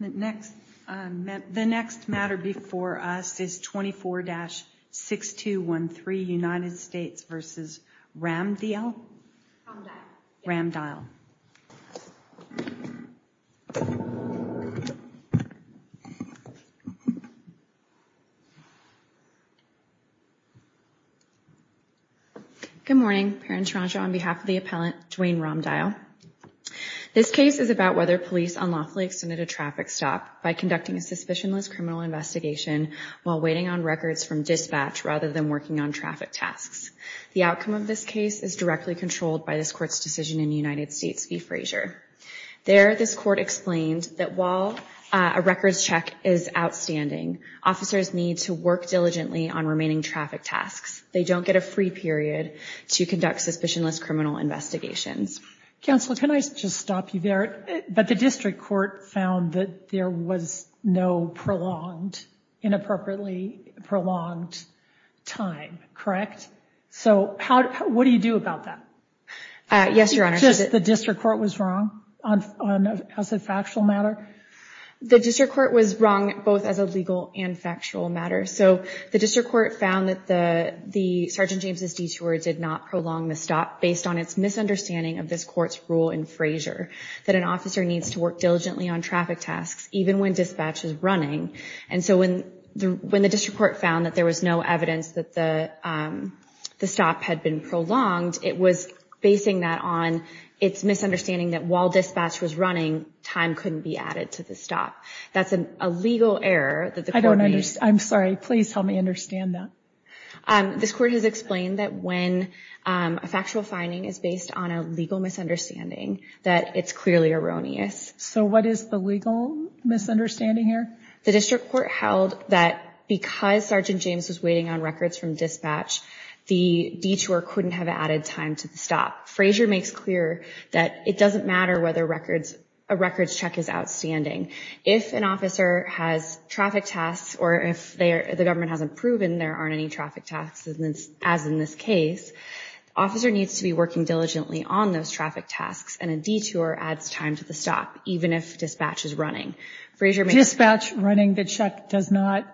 The next matter before us is 24-6213 United States v. Ramdial. Good morning, Parent Toronto. On behalf of the appellant, Dwayne Ramdial. This case is about whether police unlawfully extended a traffic stop by conducting a suspicionless criminal investigation while waiting on records from dispatch rather than working on traffic tasks. The outcome of this case is directly controlled by this court's decision in the United States v. Frazier. There, this court explained that while a records check is outstanding, officers need to work diligently on remaining traffic tasks. They don't get a free period to conduct suspicionless criminal investigations. Counsel, can I just stop you there? But the district court found that there was no prolonged, inappropriately prolonged time, correct? So what do you do about that? Yes, Your Honor. Just the district court was wrong as a factual matter? The district court was wrong both as a legal and factual matter. So the district court found that the Sergeant James's detour did not prolong the stop based on its misunderstanding of this court's rule in Frazier, that an officer needs to work diligently on traffic tasks even when dispatch is running. And so when the district court found that there was no evidence that the stop had been prolonged, it was basing that on its misunderstanding that while dispatch was running, time couldn't be added to the stop. That's a legal error that the court made. I'm sorry. Please help me understand that. This court has explained that when a factual finding is based on a legal misunderstanding, that it's clearly erroneous. So what is the legal misunderstanding here? The district court held that because Sergeant James was waiting on records from dispatch, the detour couldn't have added time to the stop. Frazier makes clear that it doesn't matter whether a records check is outstanding. If an officer has traffic tasks or if the government hasn't proven there aren't any traffic tasks, as in this case, the officer needs to be working diligently on those traffic tasks and a detour adds time to the stop even if dispatch is running. Dispatch running the check does not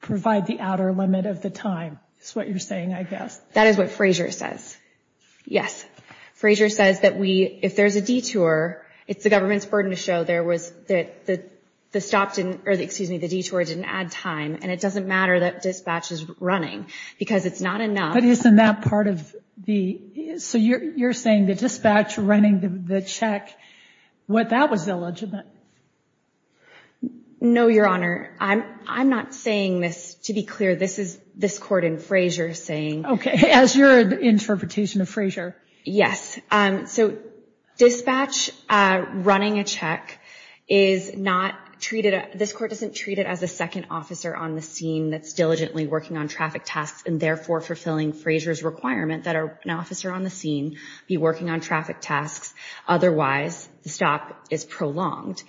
provide the outer limit of the time is what you're saying, I guess. That is what Frazier says. Yes. It's the government's burden to show there was the stop didn't, or excuse me, the detour didn't add time, and it doesn't matter that dispatch is running because it's not enough. But isn't that part of the, so you're saying the dispatch running the check, that was illegitimate? No, Your Honor. I'm not saying this. To be clear, this is this court in Frazier saying. Okay. As your interpretation of Frazier. Yes. So dispatch running a check is not treated, this court doesn't treat it as a second officer on the scene that's diligently working on traffic tasks and therefore fulfilling Frazier's requirement that an officer on the scene be working on traffic tasks. Otherwise, the stop is prolonged.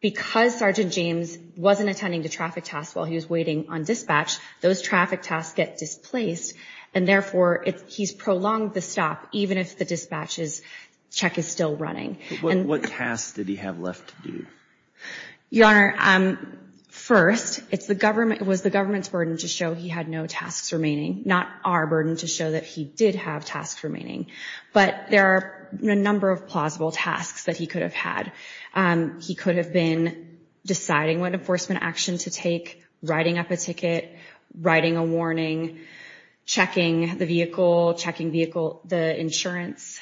Because Sergeant James wasn't attending to traffic tasks while he was waiting on dispatch, those traffic tasks get displaced, and therefore he's prolonged the stop even if the dispatch's check is still running. What tasks did he have left to do? Your Honor, first, it was the government's burden to show he had no tasks remaining, not our burden to show that he did have tasks remaining. But there are a number of plausible tasks that he could have had. He could have been deciding what enforcement action to take, writing up a ticket, writing a warning, checking the vehicle, checking the insurance.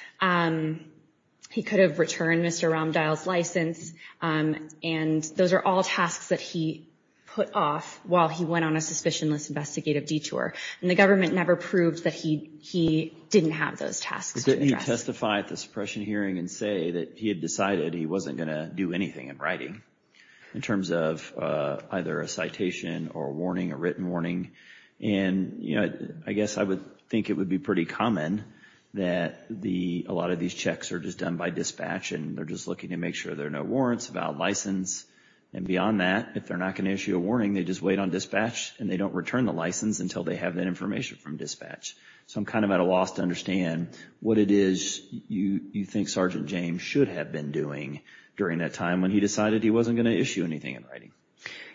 He could have returned Mr. Romdahl's license. And those are all tasks that he put off while he went on a suspicionless investigative detour. And the government never proved that he didn't have those tasks. Didn't he testify at the suppression hearing and say that he had decided he wasn't going to do anything in writing in terms of either a citation or a warning, a written warning? And, you know, I guess I would think it would be pretty common that a lot of these checks are just done by dispatch and they're just looking to make sure there are no warrants, valid license. And beyond that, if they're not going to issue a warning, they just wait on dispatch and they don't return the license until they have that information from dispatch. So I'm kind of at a loss to understand what it is you think Sergeant James should have been doing during that time when he decided he wasn't going to issue anything in writing.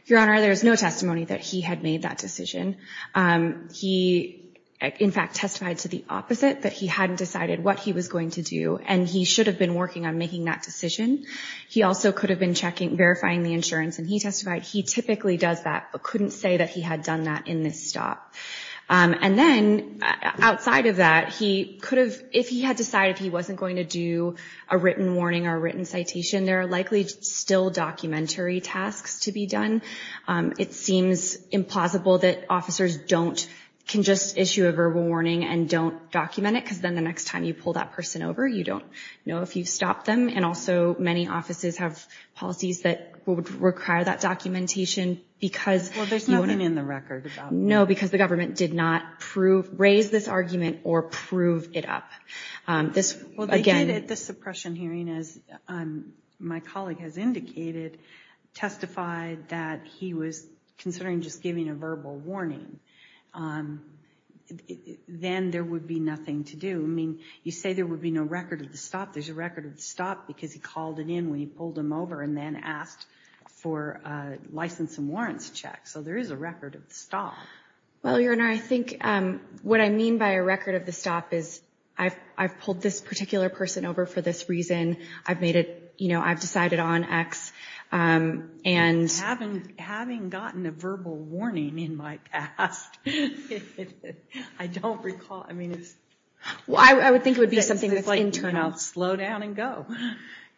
Your Honor, there is no testimony that he had made that decision. He, in fact, testified to the opposite, that he hadn't decided what he was going to do and he should have been working on making that decision. He also could have been checking, verifying the insurance, and he testified he typically does that but couldn't say that he had done that in this stop. And then, outside of that, he could have, if he had decided he wasn't going to do a written warning or a written citation, there are likely still documentary tasks to be done. It seems implausible that officers don't, can just issue a verbal warning and don't document it because then the next time you pull that person over, you don't know if you've stopped them. And also many offices have policies that would require that documentation because Well, there's nothing in the record about that. No, because the government did not raise this argument or prove it up. Well, they did at this suppression hearing, as my colleague has indicated, testify that he was considering just giving a verbal warning. Then there would be nothing to do. I mean, you say there would be no record of the stop. There's a record of the stop because he called it in when he pulled him over and then asked for a license and warrants check. So there is a record of the stop. Well, Your Honor, I think what I mean by a record of the stop is I've pulled this particular person over for this reason. I've made it, you know, I've decided on X and Having gotten a verbal warning in my past, I don't recall, I mean it's Well, I would think it would be something that's internal It's like, you know, slow down and go.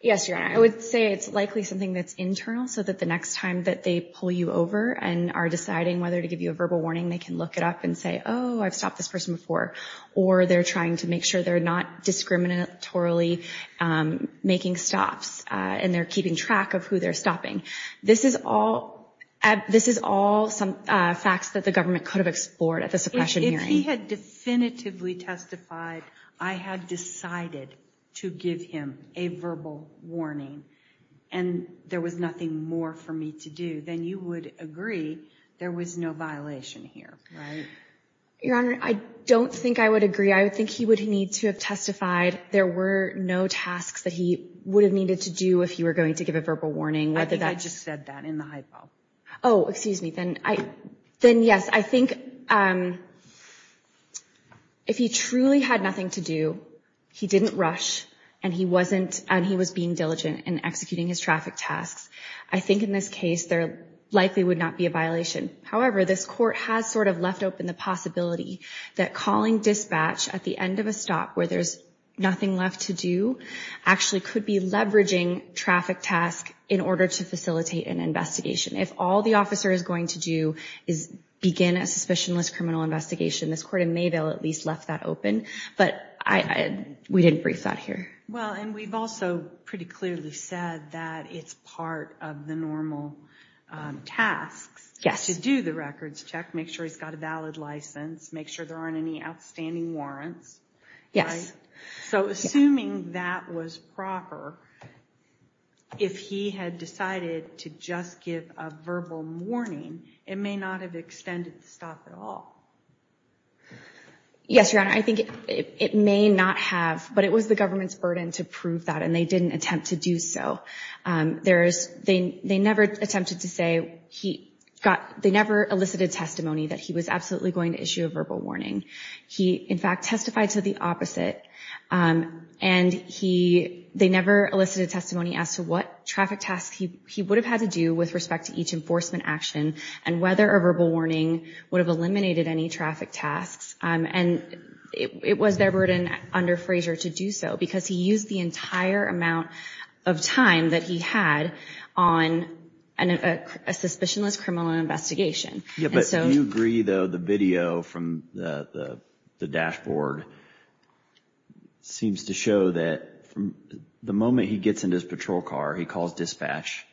Yes, Your Honor, I would say it's likely something that's internal so that the next time that they pull you over and are deciding whether to give you a verbal warning, they can look it up and say, oh, I've stopped this person before. Or they're trying to make sure they're not discriminatorily making stops and they're keeping track of who they're stopping. This is all some facts that the government could have explored at the suppression hearing. If he had definitively testified, I had decided to give him a verbal warning and there was nothing more for me to do, then you would agree there was no violation here, right? Your Honor, I don't think I would agree. I would think he would need to have testified. There were no tasks that he would have needed to do if he were going to give a verbal warning. I think I just said that in the hypo. Oh, excuse me. Then yes, I think if he truly had nothing to do, he didn't rush and he was being diligent in executing his traffic tasks, I think in this case there likely would not be a violation. However, this court has sort of left open the possibility that calling dispatch at the end of a stop where there's nothing left to do actually could be leveraging traffic tasks in order to facilitate an investigation. If all the officer is going to do is begin a suspicionless criminal investigation, this court in Mayville at least left that open. But we didn't brief that here. Well, and we've also pretty clearly said that it's part of the normal tasks to do the records check, make sure he's got a valid license, make sure there aren't any outstanding warrants. So assuming that was proper, if he had decided to just give a verbal warning, it may not have extended the stop at all. Yes, Your Honor, I think it may not have, but it was the government's burden to prove that, and they didn't attempt to do so. They never attempted to say, they never elicited testimony that he was absolutely going to issue a verbal warning. He, in fact, testified to the opposite, and they never elicited testimony as to what traffic tasks he would have had to do with respect to each enforcement action and whether a verbal warning would have eliminated any traffic tasks. And it was their burden under Frazier to do so, because he used the entire amount of time that he had on a suspicionless criminal investigation. Do you agree, though, the video from the dashboard seems to show that the moment he gets into his patrol car, he calls dispatch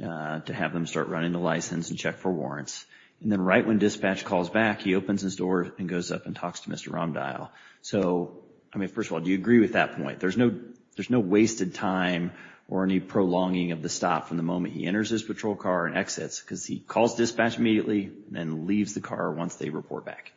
to have them start running the license and check for warrants. And then right when dispatch calls back, he opens his door and goes up and talks to Mr. Romdahl. So, I mean, first of all, do you agree with that point? There's no wasted time or any prolonging of the stop from the moment he enters his patrol car and exits, because he calls dispatch immediately and leaves the car once they report back.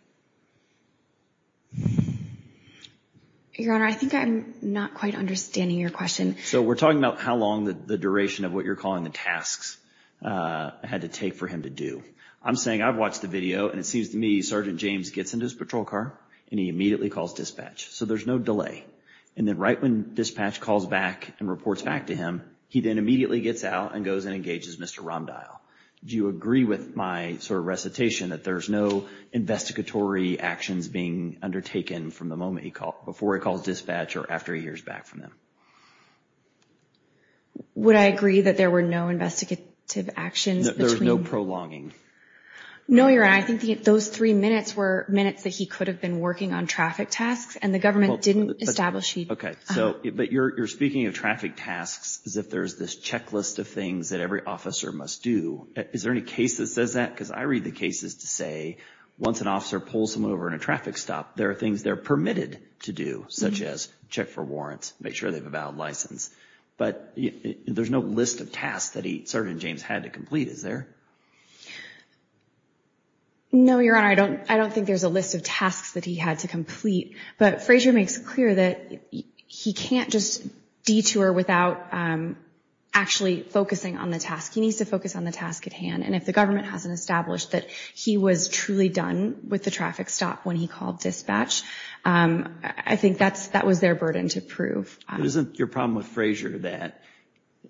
Your Honor, I think I'm not quite understanding your question. So we're talking about how long the duration of what you're calling the tasks had to take for him to do. I'm saying I've watched the video, and it seems to me Sergeant James gets into his patrol car and he immediately calls dispatch. So there's no delay. And then right when dispatch calls back and reports back to him, he then immediately gets out and goes and engages Mr. Romdahl. Do you agree with my sort of recitation that there's no investigatory actions being undertaken from the moment before he calls dispatch or after he hears back from him? Would I agree that there were no investigative actions between? There was no prolonging. No, Your Honor. I think those three minutes were minutes that he could have been working on traffic tasks, and the government didn't establish he'd. But you're speaking of traffic tasks as if there's this checklist of things that every officer must do. Is there any case that says that? Because I read the cases to say once an officer pulls someone over in a traffic stop, there are things they're permitted to do, such as check for warrants, make sure they have a valid license. But there's no list of tasks that Sergeant James had to complete, is there? No, Your Honor. I don't think there's a list of tasks that he had to complete. But Frazier makes it clear that he can't just detour without actually focusing on the task. He needs to focus on the task at hand. And if the government hasn't established that he was truly done with the traffic stop when he called dispatch, I think that was their burden to prove. Isn't your problem with Frazier that,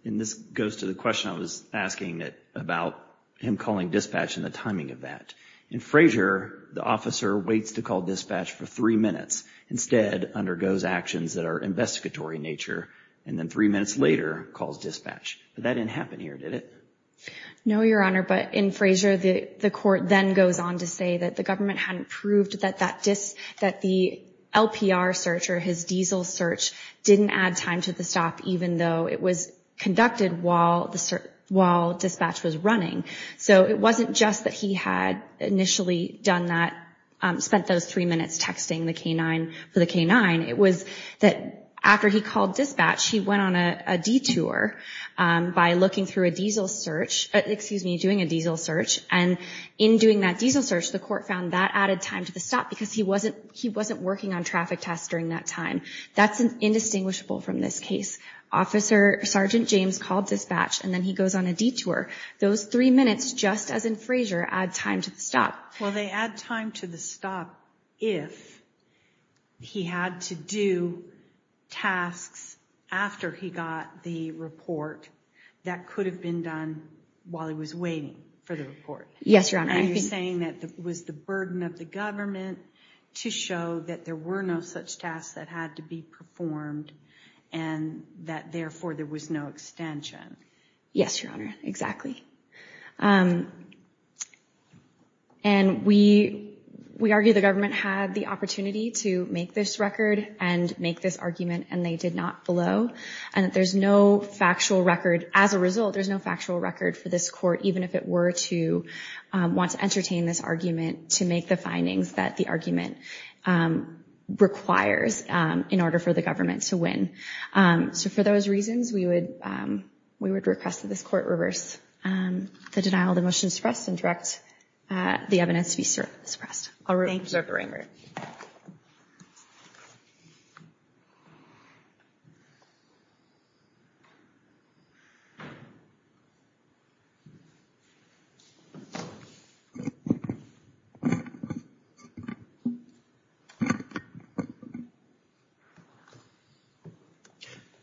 and this goes to the question I was asking about him calling dispatch and the timing of that. In Frazier, the officer waits to call dispatch for three minutes, instead undergoes actions that are investigatory in nature, and then three minutes later calls dispatch. But that didn't happen here, did it? No, Your Honor. But in Frazier, the court then goes on to say that the government hadn't proved that the LPR search or his diesel search didn't add time to the stop, even though it was conducted while dispatch was running. So it wasn't just that he had initially done that, spent those three minutes texting the K-9 for the K-9. It was that after he called dispatch, he went on a detour by looking through a diesel search. Excuse me, doing a diesel search. And in doing that diesel search, the court found that added time to the stop because he wasn't working on traffic tests during that time. That's indistinguishable from this case. Sergeant James called dispatch, and then he goes on a detour. Those three minutes, just as in Frazier, add time to the stop. Well, they add time to the stop if he had to do tasks after he got the report that could have been done while he was waiting for the report. Yes, Your Honor. And you're saying that it was the burden of the government to show that there were no such tasks that had to be performed and that, therefore, there was no extension. Yes, Your Honor, exactly. And we argue the government had the opportunity to make this record and make this argument, and they did not below, and that there's no factual record. As a result, there's no factual record for this court, even if it were to want to entertain this argument to make the findings that the argument requires in order for the government to win. So for those reasons, we would request that this court reverse the denial of the motion to suppress and direct the evidence to be suppressed. Thank you, Sergeant Ranger.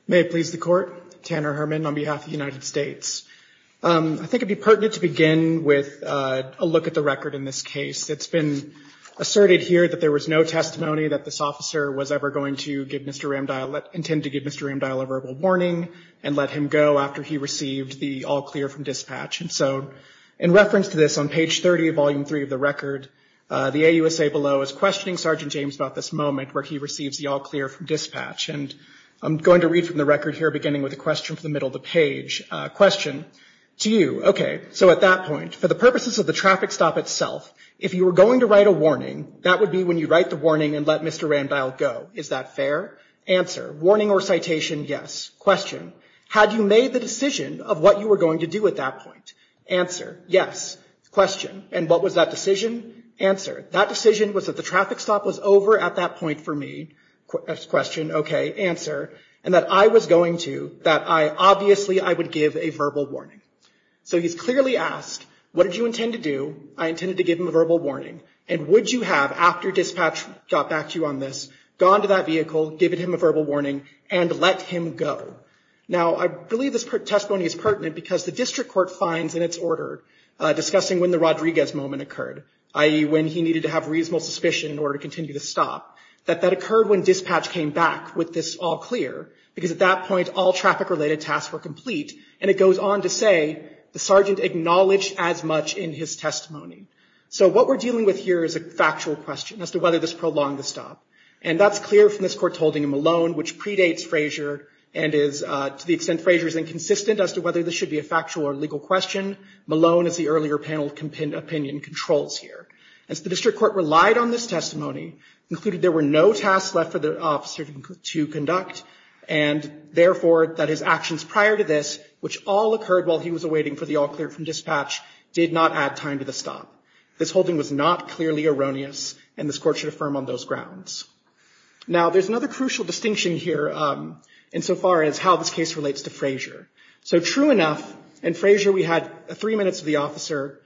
May it please the court. Tanner Herman on behalf of the United States. I think it would be pertinent to begin with a look at the record in this case. It's been asserted here that there was no testimony that this officer was ever going to give Mr. Ramdial, intend to give Mr. Ramdial a verbal warning and let him go after he received the all-clear from dispatch. And so in reference to this, on page 30 of Volume 3 of the record, the AUSA below is questioning Sergeant James about this moment where he receives the all-clear from dispatch. And I'm going to read from the record here, beginning with a question from the middle of the page. Question to you. So at that point, for the purposes of the traffic stop itself, if you were going to write a warning, that would be when you write the warning and let Mr. Ramdial go. Is that fair? Answer. Warning or citation? Yes. Question. Had you made the decision of what you were going to do at that point? Answer. Yes. Question. And what was that decision? Answer. That decision was that the traffic stop was over at that point for me. Question. Answer. And that I was going to, that I, obviously, I would give a verbal warning. So he's clearly asked, what did you intend to do? I intended to give him a verbal warning. And would you have, after dispatch got back to you on this, gone to that vehicle, given him a verbal warning, and let him go? Now, I believe this testimony is pertinent because the district court finds in its order, discussing when the Rodriguez moment occurred, i.e., when he needed to have reasonable suspicion in order to continue to stop, that that occurred when dispatch came back with this all clear, because at that point, all traffic-related tasks were complete. And it goes on to say, the sergeant acknowledged as much in his testimony. So what we're dealing with here is a factual question as to whether this prolonged the stop. And that's clear from this court holding in Malone, which predates Frazier and is, to the extent Frazier is inconsistent as to whether this should be a factual or legal question, Malone, as the earlier panel opinion controls here. And so the district court relied on this testimony, concluded there were no tasks left for the officer to conduct, and therefore that his actions prior to this, which all occurred while he was awaiting for the all clear from dispatch, did not add time to the stop. This holding was not clearly erroneous, and this court should affirm on those grounds. Now, there's another crucial distinction here insofar as how this case relates to Frazier. So true enough, in Frazier we had three minutes of the officer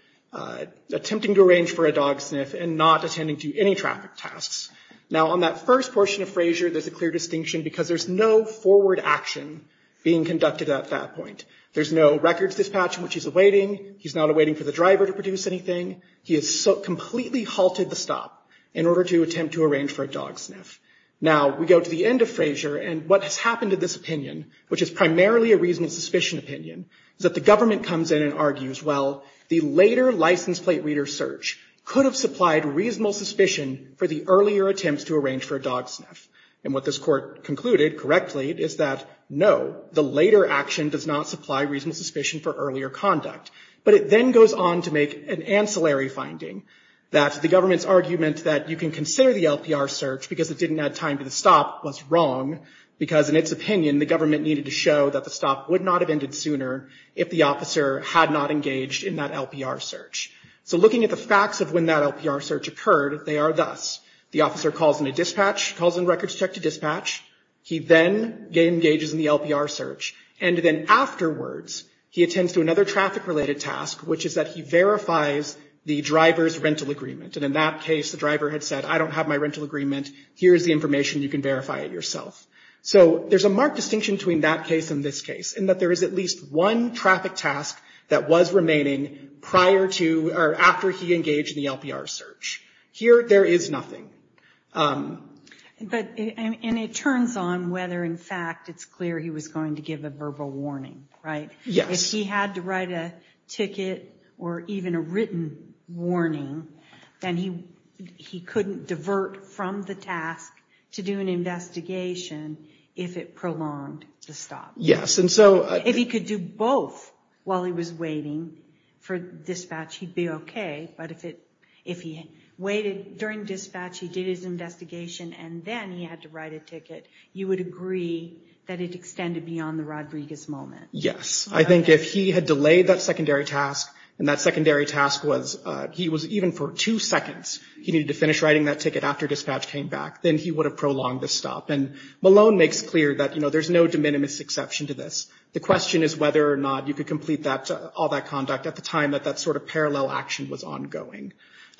attempting to arrange for a dog sniff and not attending to any traffic tasks. Now, on that first portion of Frazier, there's a clear distinction because there's no forward action being conducted at that point. There's no records dispatch in which he's awaiting. He's not awaiting for the driver to produce anything. He has completely halted the stop in order to attempt to arrange for a dog sniff. Now, we go to the end of Frazier, and what has happened to this opinion, which is primarily a reasonable suspicion opinion, is that the government comes in and argues, well, the later license plate reader search could have supplied reasonable suspicion for the earlier attempts to arrange for a dog sniff. And what this court concluded correctly is that, no, the later action does not supply reasonable suspicion for earlier conduct. But it then goes on to make an ancillary finding, that the government's argument that you can consider the LPR search because it didn't add time to the stop was wrong, because in its opinion the government needed to show that the stop would not have ended sooner if the officer had not engaged in that LPR search. So looking at the facts of when that LPR search occurred, they are thus. The officer calls in a dispatch, calls in records check to dispatch. He then engages in the LPR search. And then afterwards, he attends to another traffic-related task, which is that he verifies the driver's rental agreement. And in that case, the driver had said, I don't have my rental agreement. Here's the information. You can verify it yourself. So there's a marked distinction between that case and this case, in that there is at least one traffic task that was remaining prior to, or after he engaged in the LPR search. Here, there is nothing. And it turns on whether, in fact, it's clear he was going to give a verbal warning, right? Yes. If he had to write a ticket or even a written warning, then he couldn't divert from the task to do an investigation if it prolonged the stop. Yes. If he could do both while he was waiting for dispatch, he'd be okay. But if he waited during dispatch, he did his investigation, and then he had to write a ticket, you would agree that it extended beyond the Rodriguez moment. Yes. I think if he had delayed that secondary task, and that secondary task was he was even for two seconds, he needed to finish writing that ticket after dispatch came back, then he would have prolonged the stop. And Malone makes clear that there's no de minimis exception to this. The question is whether or not you could complete all that conduct at the time that that sort of parallel action was ongoing.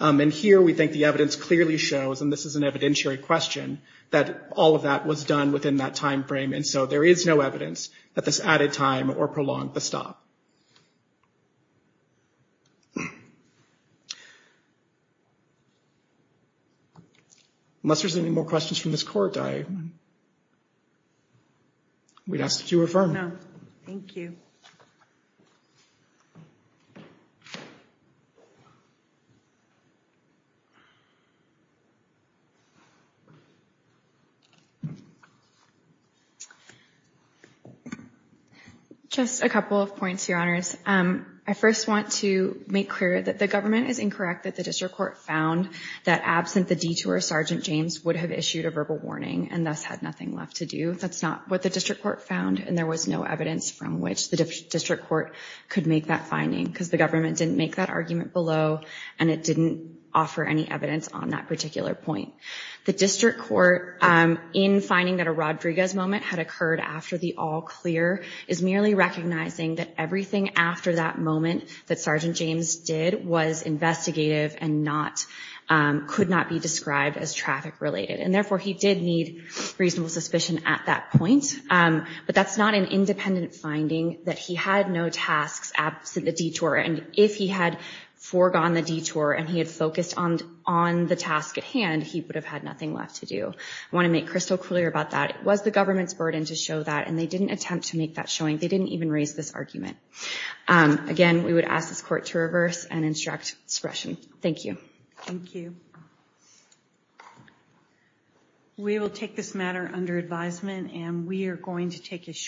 And here, we think the evidence clearly shows, and this is an evidentiary question, that all of that was done within that time frame. And so there is no evidence that this added time or prolonged the stop. Unless there's any more questions from this court, we'd ask that you affirm. No. Thank you. Just a couple of points, Your Honors. I first want to make clear that the government is incorrect, that the district court found that absent the detour, Sergeant James would have issued a verbal warning and thus had nothing left to do. That's not what the district court found, and there was no evidence from which the district court could make that finding, because the government didn't make that argument below, and it didn't offer any evidence on that particular point. The district court, in finding that a Rodriguez moment had occurred after the all-clear, is merely recognizing that everything after that moment that Sergeant James did was investigative and could not be described as traffic-related. And therefore, he did need reasonable suspicion at that point. But that's not an independent finding, that he had no tasks absent the detour, and if he had foregone the detour and he had focused on the task at hand, he would have had nothing left to do. I want to make crystal clear about that. It was the government's burden to show that, and they didn't attempt to make that showing. They didn't even raise this argument. Again, we would ask this court to reverse and instruct discretion. Thank you. Thank you. We will take this matter under advisement, and we are going to take a short break.